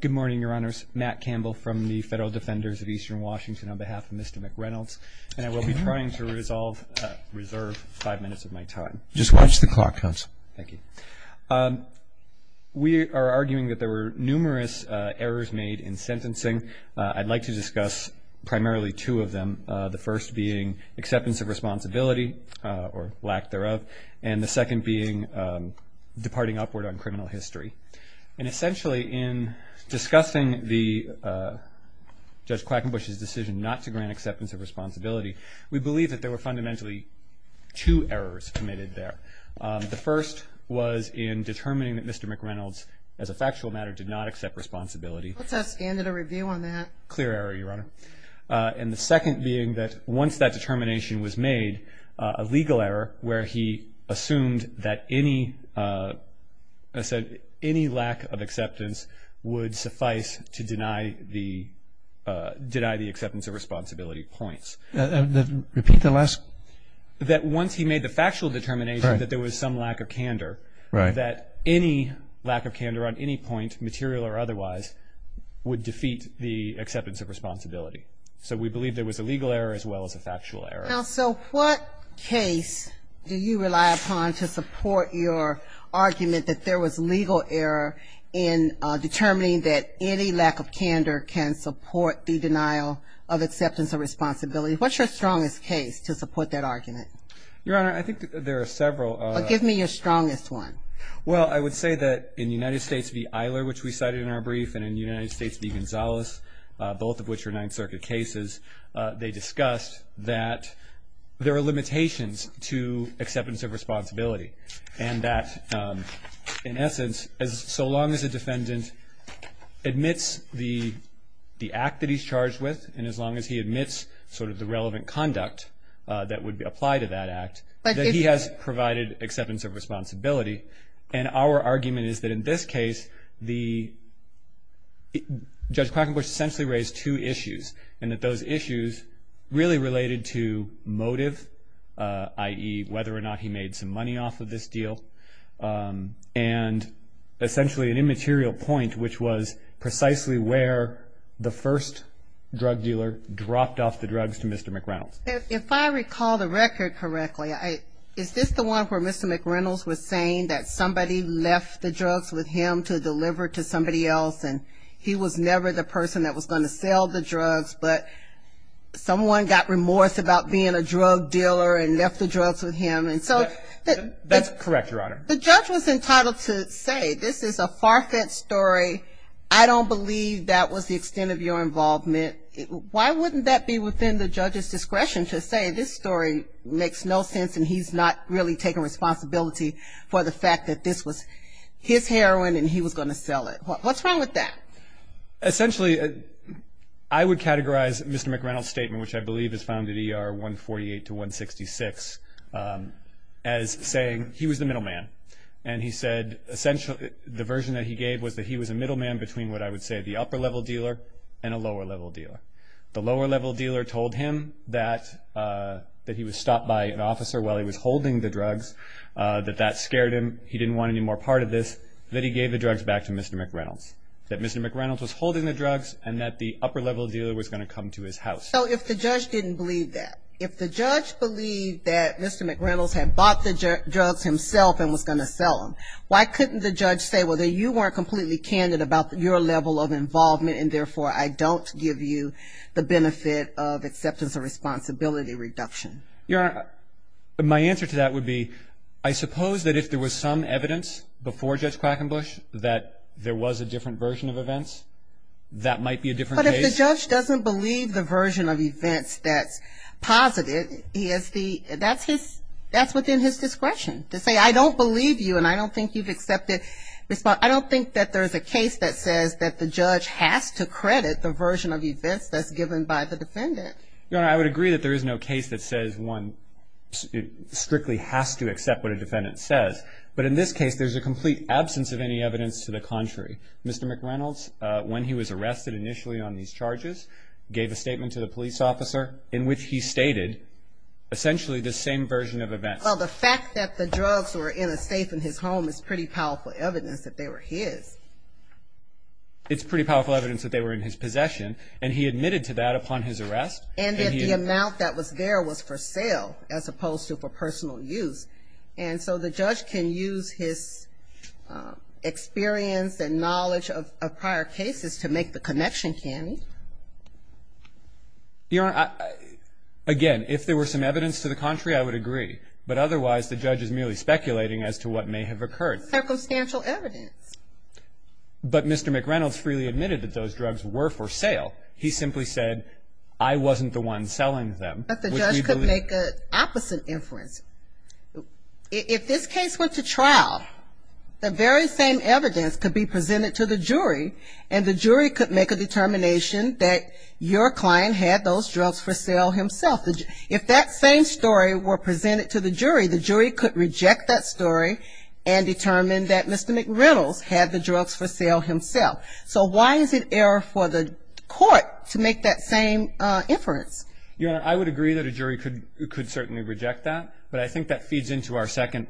Good morning, Your Honors. Matt Campbell from the Federal Defenders of Eastern Washington on behalf of Mr. McReynolds. And I will be trying to resolve, reserve five minutes of my time. Just watch the clock, Counsel. Thank you. We are arguing that there were numerous errors made in sentencing. I'd like to discuss primarily two of them, the first being acceptance of responsibility, or lack thereof, and the second being departing upward on criminal history. And essentially, in discussing Judge Quackenbush's decision not to grant acceptance of responsibility, we believe that there were fundamentally two errors committed there. The first was in determining that Mr. McReynolds, as a factual matter, did not accept responsibility. Let's ask and at a review on that. Clear error, Your Honor. And the second being that once that determination was made, a legal error where he assumed that any lack of acceptance would suffice to deny the acceptance of responsibility points. Repeat the last. That once he made the factual determination that there was some lack of candor, that any lack of candor on any point, material or otherwise, would defeat the acceptance of responsibility. So we believe there was a legal error as well as a factual error. Now, so what case do you rely upon to support your argument that there was legal error in determining that any lack of candor can support the denial of acceptance of responsibility? What's your strongest case to support that argument? Your Honor, I think there are several. Give me your strongest one. Well, I would say that in United States v. Eiler, which we cited in our brief, and in United States v. Gonzalez, both of which are Ninth Circuit cases, they discussed that there are limitations to acceptance of responsibility and that, in essence, so long as a defendant admits the act that he's charged with and as long as he admits sort of the relevant conduct that would apply to that act, that he has provided acceptance of responsibility. And our argument is that in this case, Judge Krakenbush essentially raised two issues and that those issues really related to motive, i.e., whether or not he made some money off of this deal, and essentially an immaterial point, which was precisely where the first drug dealer dropped off the drugs to Mr. McReynolds. If I recall the record correctly, is this the one where Mr. McReynolds was saying that somebody left the drugs with him to deliver to somebody else and he was never the person that was going to sell the drugs, but someone got remorse about being a drug dealer and left the drugs with him? That's correct, Your Honor. The judge was entitled to say this is a far-fetched story. I don't believe that was the extent of your involvement. Why wouldn't that be within the judge's discretion to say this story makes no sense and he's not really taking responsibility for the fact that this was his heroin and he was going to sell it? What's wrong with that? Essentially, I would categorize Mr. McReynolds' statement, which I believe is found in ER 148 to 166, as saying he was the middleman and he said essentially the version that he gave was that he was a middleman between what I would say the upper-level dealer and a lower-level dealer. The lower-level dealer told him that he was stopped by an officer while he was holding the drugs, that that scared him, he didn't want any more part of this, that he gave the drugs back to Mr. McReynolds, that Mr. McReynolds was holding the drugs and that the upper-level dealer was going to come to his house. So if the judge didn't believe that, if the judge believed that Mr. McReynolds had bought the drugs himself and was going to sell them, why couldn't the judge say, well, you weren't completely candid about your level of involvement and therefore I don't give you the benefit of acceptance of responsibility reduction? Your Honor, my answer to that would be I suppose that if there was some evidence before Judge Quackenbush that there was a different version of events, that might be a different case. But if the judge doesn't believe the version of events that's positive, that's within his discretion to say, I don't believe you and I don't think you've accepted responsibility. I don't think that there's a case that says that the judge has to credit the version of events that's given by the defendant. Your Honor, I would agree that there is no case that says one strictly has to accept what a defendant says. But in this case, there's a complete absence of any evidence to the contrary. Mr. McReynolds, when he was arrested initially on these charges, gave a statement to the police officer in which he stated essentially the same version of events. Well, the fact that the drugs were in a safe in his home is pretty powerful evidence that they were his. It's pretty powerful evidence that they were in his possession. And he admitted to that upon his arrest. And that the amount that was there was for sale as opposed to for personal use. And so the judge can use his experience and knowledge of prior cases to make the connection candid. Your Honor, again, if there were some evidence to the contrary, I would agree. But otherwise, the judge is merely speculating as to what may have occurred. Circumstantial evidence. But Mr. McReynolds freely admitted that those drugs were for sale. He simply said, I wasn't the one selling them. But the judge could make an opposite inference. If this case went to trial, the very same evidence could be presented to the jury and the jury could make a determination that your client had those drugs for sale himself. If that same story were presented to the jury, the jury could reject that story and determine that Mr. McReynolds had the drugs for sale himself. So why is it error for the court to make that same inference? Your Honor, I would agree that a jury could certainly reject that. But I think that feeds into our second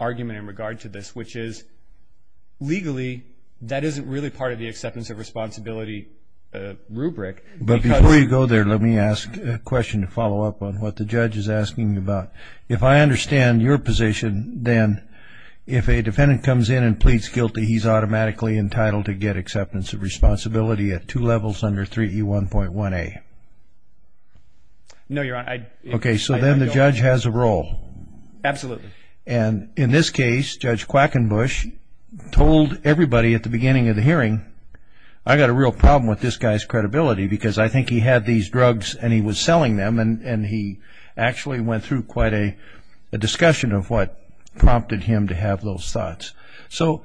argument in regard to this, which is legally that isn't really part of the acceptance of responsibility rubric. But before you go there, let me ask a question to follow up on what the judge is asking about. If I understand your position, then if a defendant comes in and pleads guilty, he's automatically entitled to get acceptance of responsibility at two levels under 3E1.1A. No, Your Honor. Okay, so then the judge has a role. Absolutely. And in this case, Judge Quackenbush told everybody at the beginning of the hearing, I've got a real problem with this guy's credibility because I think he had these drugs and he was selling them and he actually went through quite a discussion of what prompted him to have those thoughts. So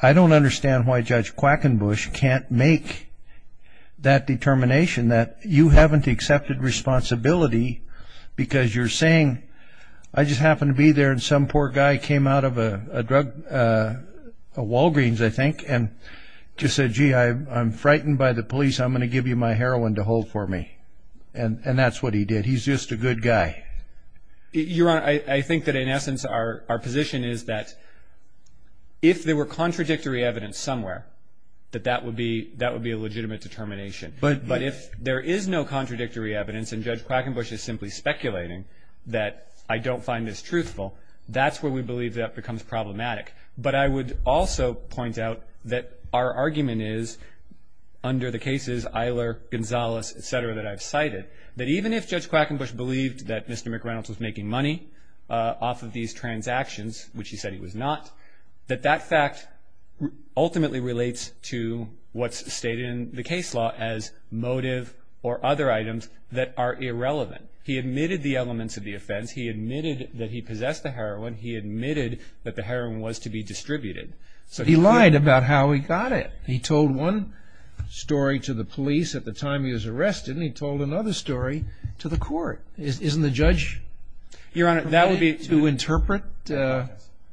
I don't understand why Judge Quackenbush can't make that determination that you haven't accepted responsibility because you're saying, I just happened to be there and some poor guy came out of a Walgreens, I think, and just said, gee, I'm frightened by the police. I'm going to give you my heroin to hold for me. And that's what he did. He's just a good guy. Your Honor, I think that in essence our position is that if there were contradictory evidence somewhere, that that would be a legitimate determination. But if there is no contradictory evidence and Judge Quackenbush is simply speculating that I don't find this truthful, that's where we believe that becomes problematic. But I would also point out that our argument is, under the cases, Eiler, Gonzalez, et cetera, that I've cited, that even if Judge Quackenbush believed that Mr. McReynolds was making money off of these transactions, which he said he was not, that that fact ultimately relates to what's stated in the case law as motive or other items that are irrelevant. He admitted the elements of the offense. He admitted that he possessed the heroin. He admitted that the heroin was to be distributed. He lied about how he got it. He told one story to the police at the time he was arrested, and he told another story to the court. Isn't the judge permitted to interpret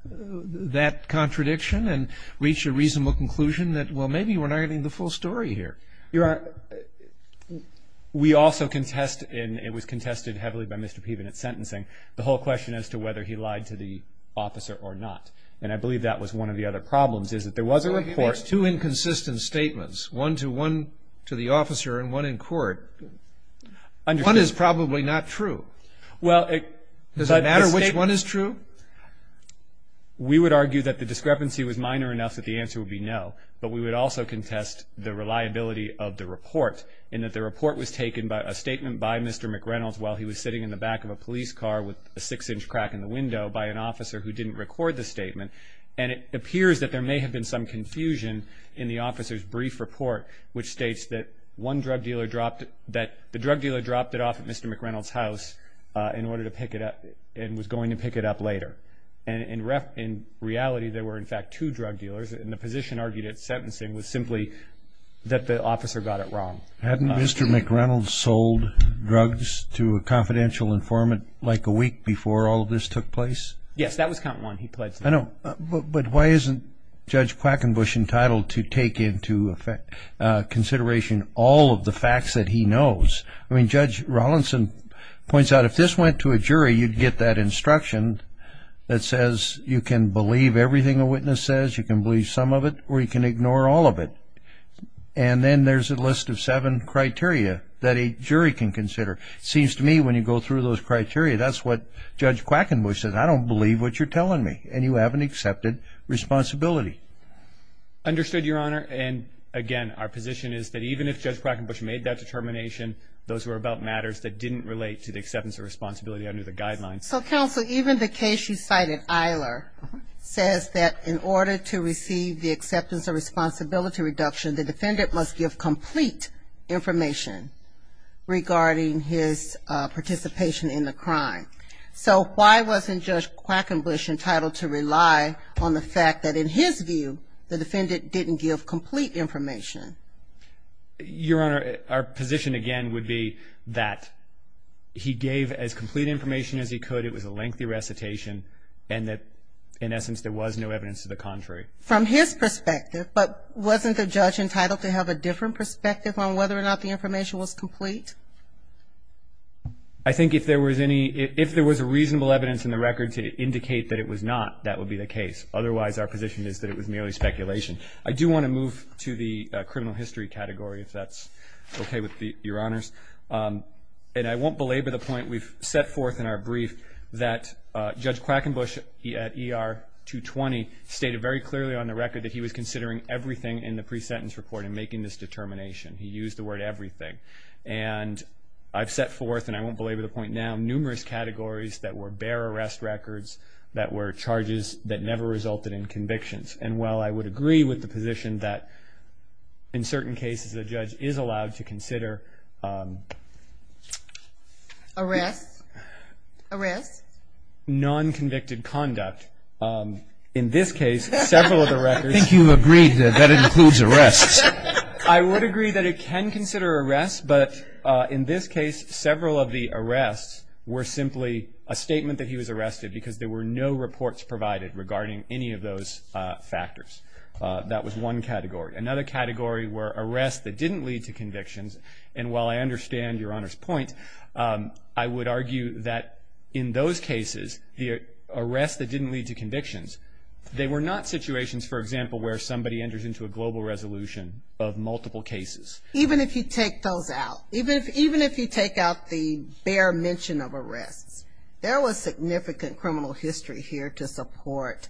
that contradiction and reach a reasonable conclusion that, well, maybe we're not getting the full story here? You're right. We also contest, and it was contested heavily by Mr. Peven at sentencing, the whole question as to whether he lied to the officer or not. And I believe that was one of the other problems, is that there was a report. There's two inconsistent statements, one to the officer and one in court. One is probably not true. Does it matter which one is true? We would argue that the discrepancy was minor enough that the answer would be no, but we would also contest the reliability of the report in that the report was taken by a statement by Mr. McReynolds while he was sitting in the back of a police car with a six-inch crack in the window by an officer who didn't record the statement. And it appears that there may have been some confusion in the officer's brief report, which states that the drug dealer dropped it off at Mr. McReynolds' house in order to pick it up and was going to pick it up later. And in reality, there were, in fact, two drug dealers, and the position argued at sentencing was simply that the officer got it wrong. Hadn't Mr. McReynolds sold drugs to a confidential informant like a week before all of this took place? Yes, that was count one. I know, but why isn't Judge Quackenbush entitled to take into consideration all of the facts that he knows? I mean, Judge Rawlinson points out if this went to a jury, you'd get that instruction that says you can believe everything a witness says, you can believe some of it, or you can ignore all of it. And then there's a list of seven criteria that a jury can consider. It seems to me when you go through those criteria, that's what Judge Quackenbush says. I don't believe what you're telling me, and you haven't accepted responsibility. Understood, Your Honor. And, again, our position is that even if Judge Quackenbush made that determination, those were about matters that didn't relate to the acceptance of responsibility under the guidelines. So, counsel, even the case you cited, Eiler, says that in order to receive the acceptance of responsibility reduction, the defendant must give complete information regarding his participation in the crime. So why wasn't Judge Quackenbush entitled to rely on the fact that, in his view, the defendant didn't give complete information? Your Honor, our position, again, would be that he gave as complete information as he could. It was a lengthy recitation, and that, in essence, there was no evidence to the contrary. From his perspective, but wasn't the judge entitled to have a different perspective on whether or not the information was complete? I think if there was a reasonable evidence in the record to indicate that it was not, that would be the case. Otherwise, our position is that it was merely speculation. I do want to move to the criminal history category, if that's okay with Your Honors. And I won't belabor the point. We've set forth in our brief that Judge Quackenbush, at ER 220, stated very clearly on the record that he was considering everything in the pre-sentence report in making this determination. He used the word everything. And I've set forth, and I won't belabor the point now, that there were numerous categories that were bare arrest records, that were charges that never resulted in convictions. And while I would agree with the position that in certain cases a judge is allowed to consider Arrests? Arrests? Non-convicted conduct. In this case, several of the records I think you've agreed that that includes arrests. I would agree that it can consider arrests. But in this case, several of the arrests were simply a statement that he was arrested because there were no reports provided regarding any of those factors. That was one category. Another category were arrests that didn't lead to convictions. And while I understand Your Honor's point, I would argue that in those cases, the arrests that didn't lead to convictions, they were not situations, for example, where somebody enters into a global resolution of multiple cases. Even if you take those out, even if you take out the bare mention of arrests, there was significant criminal history here to support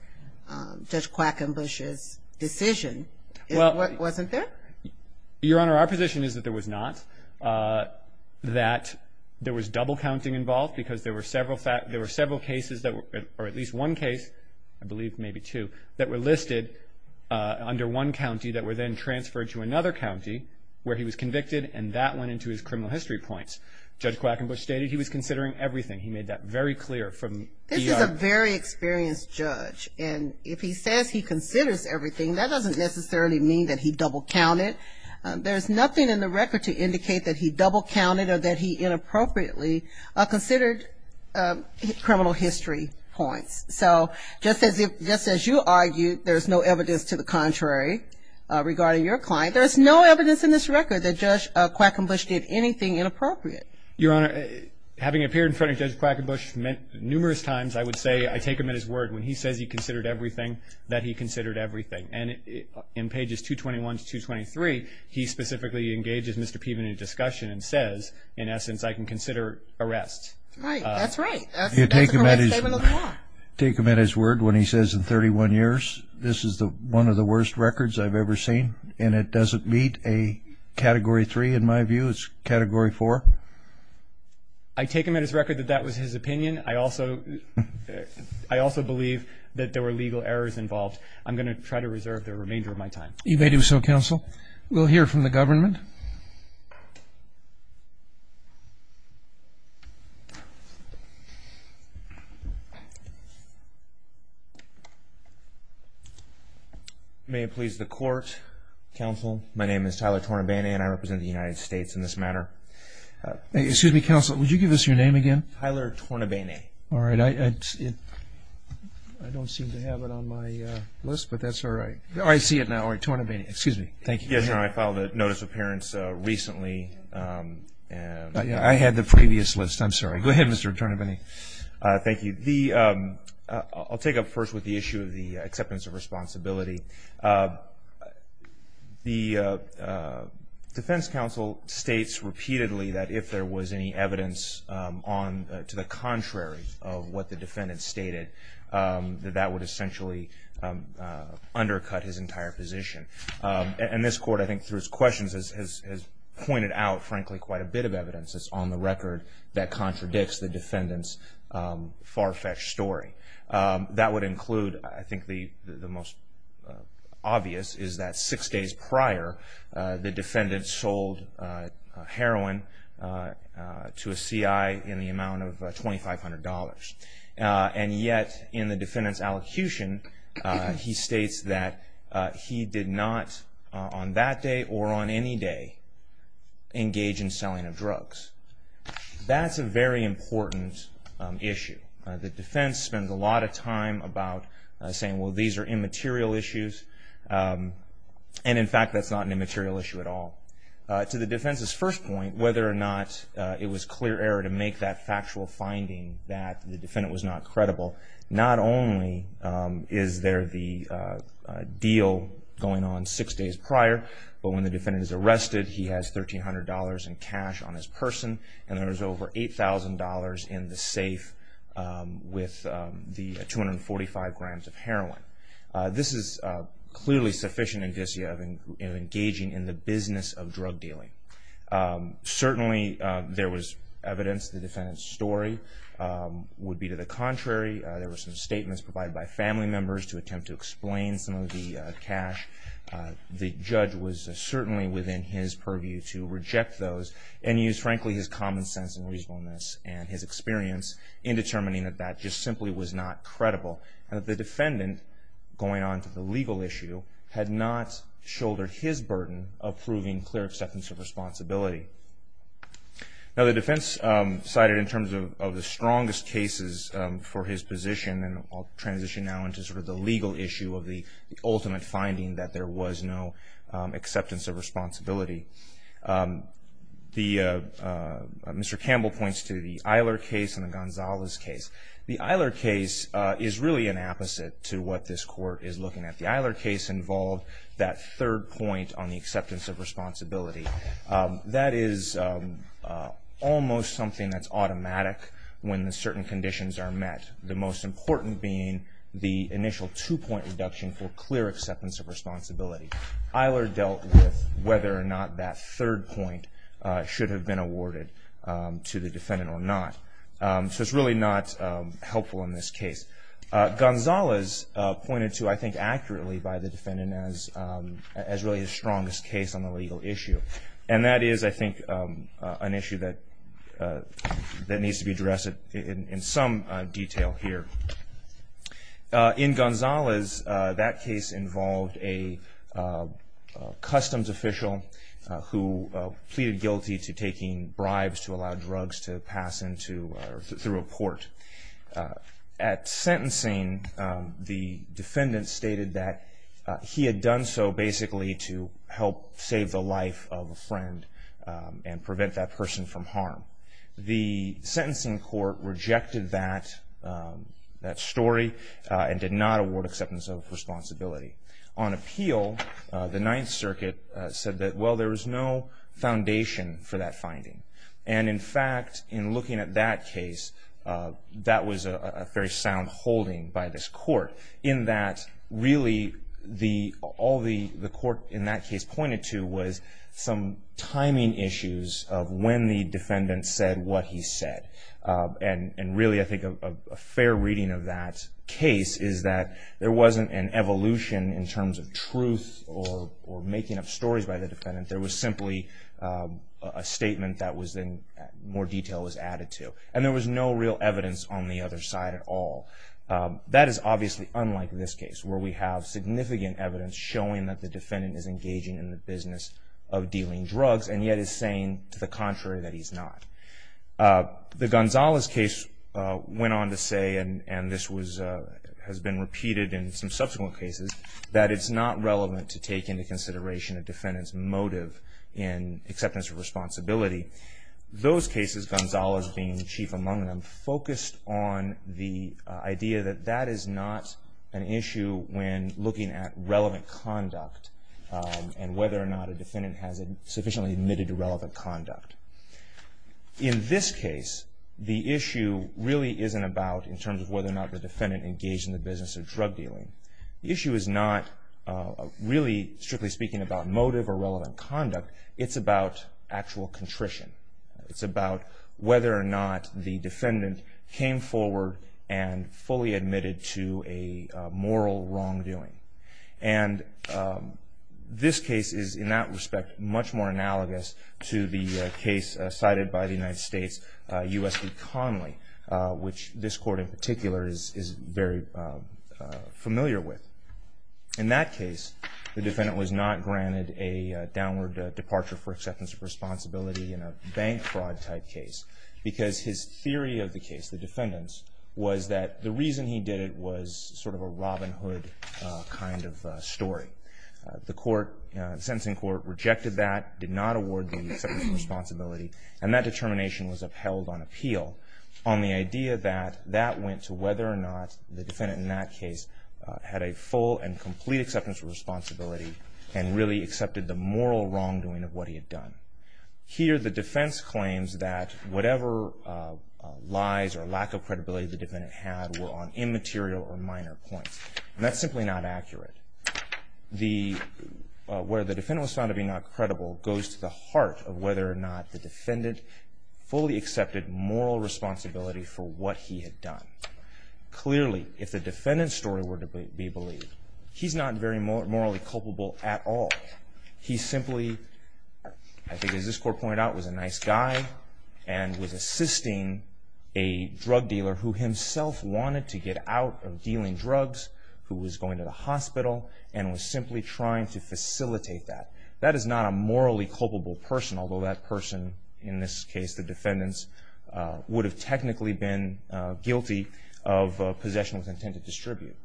Judge Quackenbush's decision, wasn't there? Your Honor, our position is that there was not. That there was double counting involved because there were several cases that were, or at least one case, I believe maybe two, that were listed under one county that were then transferred to another county where he was convicted, and that went into his criminal history points. Judge Quackenbush stated he was considering everything. He made that very clear from the... This is a very experienced judge, and if he says he considers everything, that doesn't necessarily mean that he double counted. There's nothing in the record to indicate that he double counted or that he inappropriately considered criminal history points. So just as you argued there's no evidence to the contrary regarding your client, there's no evidence in this record that Judge Quackenbush did anything inappropriate. Your Honor, having appeared in front of Judge Quackenbush numerous times, I would say I take him at his word. When he says he considered everything, that he considered everything. And in pages 221 to 223, he specifically engages Mr. Peven in a discussion and says, in essence, I can consider arrest. Right, that's right. That's a correct statement of the law. You take him at his word when he says in 31 years, this is one of the worst records I've ever seen, and it doesn't meet a Category 3 in my view, it's Category 4? I take him at his record that that was his opinion. I also believe that there were legal errors involved. I'm going to try to reserve the remainder of my time. You may do so, Counsel. We'll hear from the government. May it please the Court, Counsel, my name is Tyler Tornabene and I represent the United States in this matter. Excuse me, Counsel, would you give us your name again? Tyler Tornabene. All right, I don't seem to have it on my list, but that's all right. I see it now. All right, Tornabene, excuse me. Thank you. Yes, Your Honor, I filed a Notice of Appearance recently. I had the previous list, I'm sorry. Go ahead, Mr. Tornabene. Thank you. I'll take up first with the issue of the acceptance of responsibility. The Defense Counsel states repeatedly that if there was any evidence to the contrary of what the defendant stated, that that would essentially undercut his entire position. And this Court, I think through its questions, has pointed out, frankly, quite a bit of evidence that's on the record that contradicts the defendant's far-fetched story. That would include, I think the most obvious is that six days prior, the defendant sold heroin to a CI in the amount of $2,500. And yet, in the defendant's allocution, he states that he did not on that day or on any day engage in selling of drugs. That's a very important issue. The defense spends a lot of time about saying, well, these are immaterial issues. And, in fact, that's not an immaterial issue at all. To the defense's first point, whether or not it was clear error to make that factual finding that the defendant was not credible, not only is there the deal going on six days prior, but when the defendant is arrested, he has $1,300 in cash on his person, and there's over $8,000 in the safe with the 245 grams of heroin. This is clearly sufficient indicia of engaging in the business of drug dealing. Certainly, there was evidence the defendant's story would be to the contrary. There were some statements provided by family members to attempt to explain some of the cash. The judge was certainly within his purview to reject those and use, frankly, his common sense and reasonableness and his experience in determining that that just simply was not credible and that the defendant, going on to the legal issue, had not shouldered his burden of proving clear acceptance of responsibility. Now, the defense cited in terms of the strongest cases for his position, and I'll transition now into sort of the legal issue of the ultimate finding that there was no acceptance of responsibility. Mr. Campbell points to the Eiler case and the Gonzalez case. The Eiler case is really an opposite to what this court is looking at. The Eiler case involved that third point on the acceptance of responsibility. That is almost something that's automatic when certain conditions are met, the most important being the initial two-point reduction for clear acceptance of responsibility. Eiler dealt with whether or not that third point should have been awarded to the defendant or not. So it's really not helpful in this case. Gonzalez pointed to, I think accurately by the defendant, as really his strongest case on the legal issue. And that is, I think, an issue that needs to be addressed in some detail here. In Gonzalez, that case involved a customs official who pleaded guilty to taking through a port. At sentencing, the defendant stated that he had done so basically to help save the life of a friend and prevent that person from harm. The sentencing court rejected that story and did not award acceptance of responsibility. On appeal, the Ninth Circuit said that, well, there was no foundation for that finding. And, in fact, in looking at that case, that was a very sound holding by this court in that really all the court in that case pointed to was some timing issues of when the defendant said what he said. And really I think a fair reading of that case is that there wasn't an evolution in terms of truth or making up stories by the defendant. There was simply a statement that was then more detail was added to. And there was no real evidence on the other side at all. That is obviously unlike this case where we have significant evidence showing that the defendant is engaging in the business of dealing drugs and yet is saying to the contrary that he's not. The Gonzalez case went on to say, and this has been repeated in some subsequent cases, that it's not relevant to take into consideration a defendant's motive in acceptance of responsibility. Those cases, Gonzalez being chief among them, focused on the idea that that is not an issue when looking at relevant conduct and whether or not a defendant has sufficiently admitted to relevant conduct. In this case, the issue really isn't about, in terms of whether or not the defendant engaged in the business of drug dealing. The issue is not really, strictly speaking, about motive or relevant conduct. It's about actual contrition. It's about whether or not the defendant came forward and fully admitted to a moral wrongdoing. And this case is, in that respect, much more analogous to the case cited by the United States, U.S. v. Conley, which this court in particular is very familiar with. In that case, the defendant was not granted a downward departure for acceptance of responsibility in a bank fraud type case because his theory of the case, the defendant's, was that the reason he did it was sort of a Robin Hood kind of story. The court, the sentencing court, rejected that, did not award the acceptance of responsibility, and that determination was upheld on appeal on the idea that that went to whether or not the defendant in that case had a full and complete acceptance of responsibility and really accepted the moral wrongdoing of what he had done. Here, the defense claims that whatever lies or lack of credibility the defendant had were on immaterial or minor points, and that's simply not accurate. Where the defendant was found to be not credible goes to the heart of whether or not the defendant fully accepted moral responsibility for what he had done. Clearly, if the defendant's story were to be believed, he's not very morally culpable at all. He simply, I think as this court pointed out, was a nice guy and was assisting a drug dealer who himself wanted to get out of dealing drugs, who was going to the hospital, and was simply trying to facilitate that. That is not a morally culpable person, although that person, in this case the defendants, would have technically been guilty of possession with intent to distribute.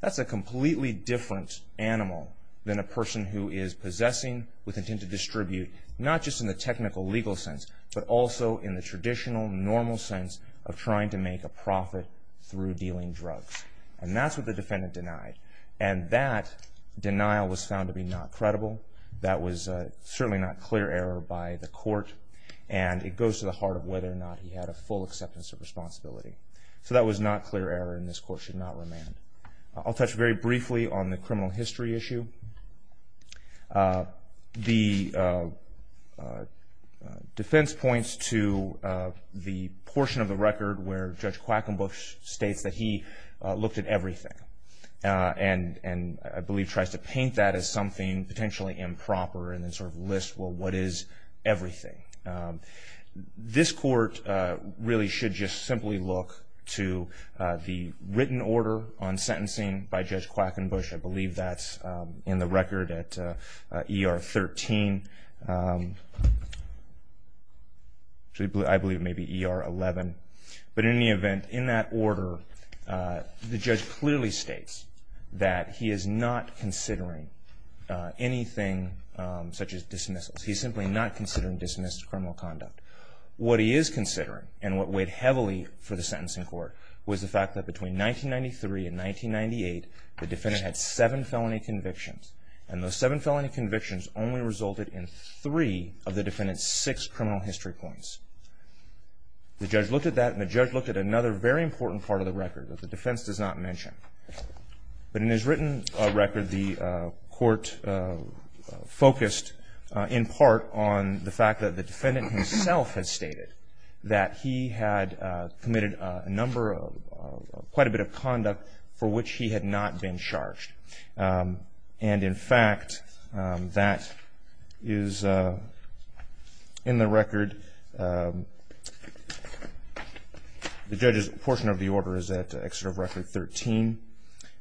That's a completely different animal than a person who is possessing with intent to distribute, not just in the technical legal sense, but also in the traditional, normal sense of trying to make a profit through dealing drugs. And that's what the defendant denied. And that denial was found to be not credible. That was certainly not clear error by the court, and it goes to the heart of whether or not he had a full acceptance of responsibility. So that was not clear error, and this court should not remand. I'll touch very briefly on the criminal history issue. The defense points to the portion of the record where Judge Quackenbush states that he looked at everything and, I believe, tries to paint that as something potentially improper and then sort of lists, well, what is everything? This court really should just simply look to the written order on sentencing by Judge Quackenbush. I believe that's in the record at ER 13. I believe it may be ER 11. But in any event, in that order, the judge clearly states that he is not considering anything such as dismissals. He's simply not considering dismissed criminal conduct. What he is considering, and what weighed heavily for the sentencing court, was the fact that between 1993 and 1998, the defendant had seven felony convictions, and those seven felony convictions only resulted in three of the defendant's six criminal history points. The judge looked at that, and the judge looked at another very important part of the record that the defense does not mention. But in his written record, the court focused in part on the fact that the defendant himself has stated that he had committed quite a bit of conduct for which he had not been charged. And, in fact, that is in the record. The judge's portion of the order is at Excerpt of Record 13,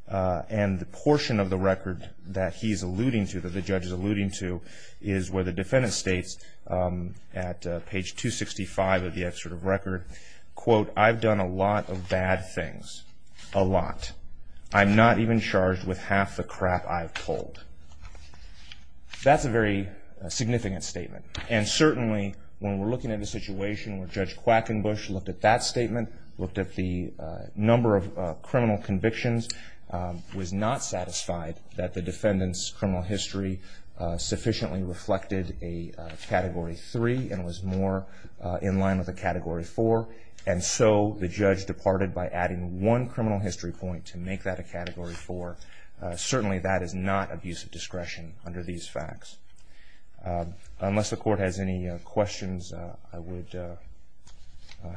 and the portion of the record that he's alluding to, that the judge is alluding to, is where the defendant states at page 265 of the Excerpt of Record, quote, I've done a lot of bad things. A lot. I'm not even charged with half the crap I've told. That's a very significant statement. And certainly, when we're looking at a situation where Judge Quackenbush looked at that statement, looked at the number of criminal convictions, was not satisfied that the defendant's criminal history sufficiently reflected a Category 3 and was more in line with a Category 4. And so the judge departed by adding one criminal history point to make that a Category 4. Certainly that is not abuse of discretion under these facts. Unless the court has any questions, I would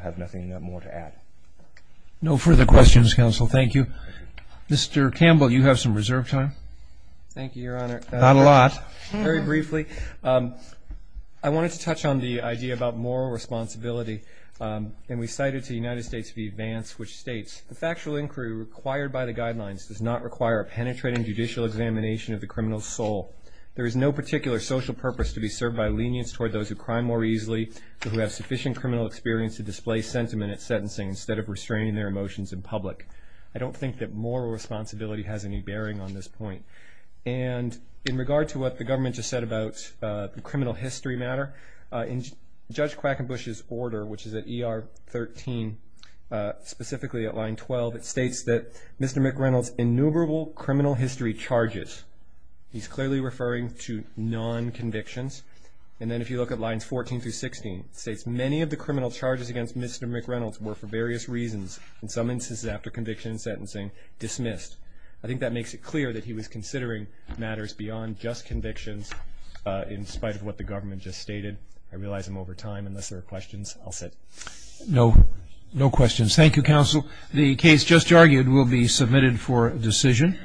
have nothing more to add. No further questions, Counsel. Thank you. Mr. Campbell, you have some reserve time. Thank you, Your Honor. Not a lot. Very briefly, I wanted to touch on the idea about moral responsibility, and we cited to the United States v. Vance, which states, the factual inquiry required by the guidelines does not require a penetrating judicial examination of the criminal's soul. There is no particular social purpose to be served by lenience toward those who crime more easily or who have sufficient criminal experience to display sentiment at sentencing instead of restraining their emotions in public. I don't think that moral responsibility has any bearing on this point. And in regard to what the government just said about the criminal history matter, in Judge Quackenbush's order, which is at ER 13, specifically at line 12, it states that Mr. McReynolds' innumerable criminal history charges, he's clearly referring to non-convictions, and then if you look at lines 14 through 16, it states many of the criminal charges against Mr. McReynolds were for various reasons, in some instances after conviction and sentencing, dismissed. I think that makes it clear that he was considering matters beyond just convictions, in spite of what the government just stated. I realize I'm over time. Unless there are questions, I'll sit. No. No questions. Thank you, counsel. The case just argued will be submitted for decision.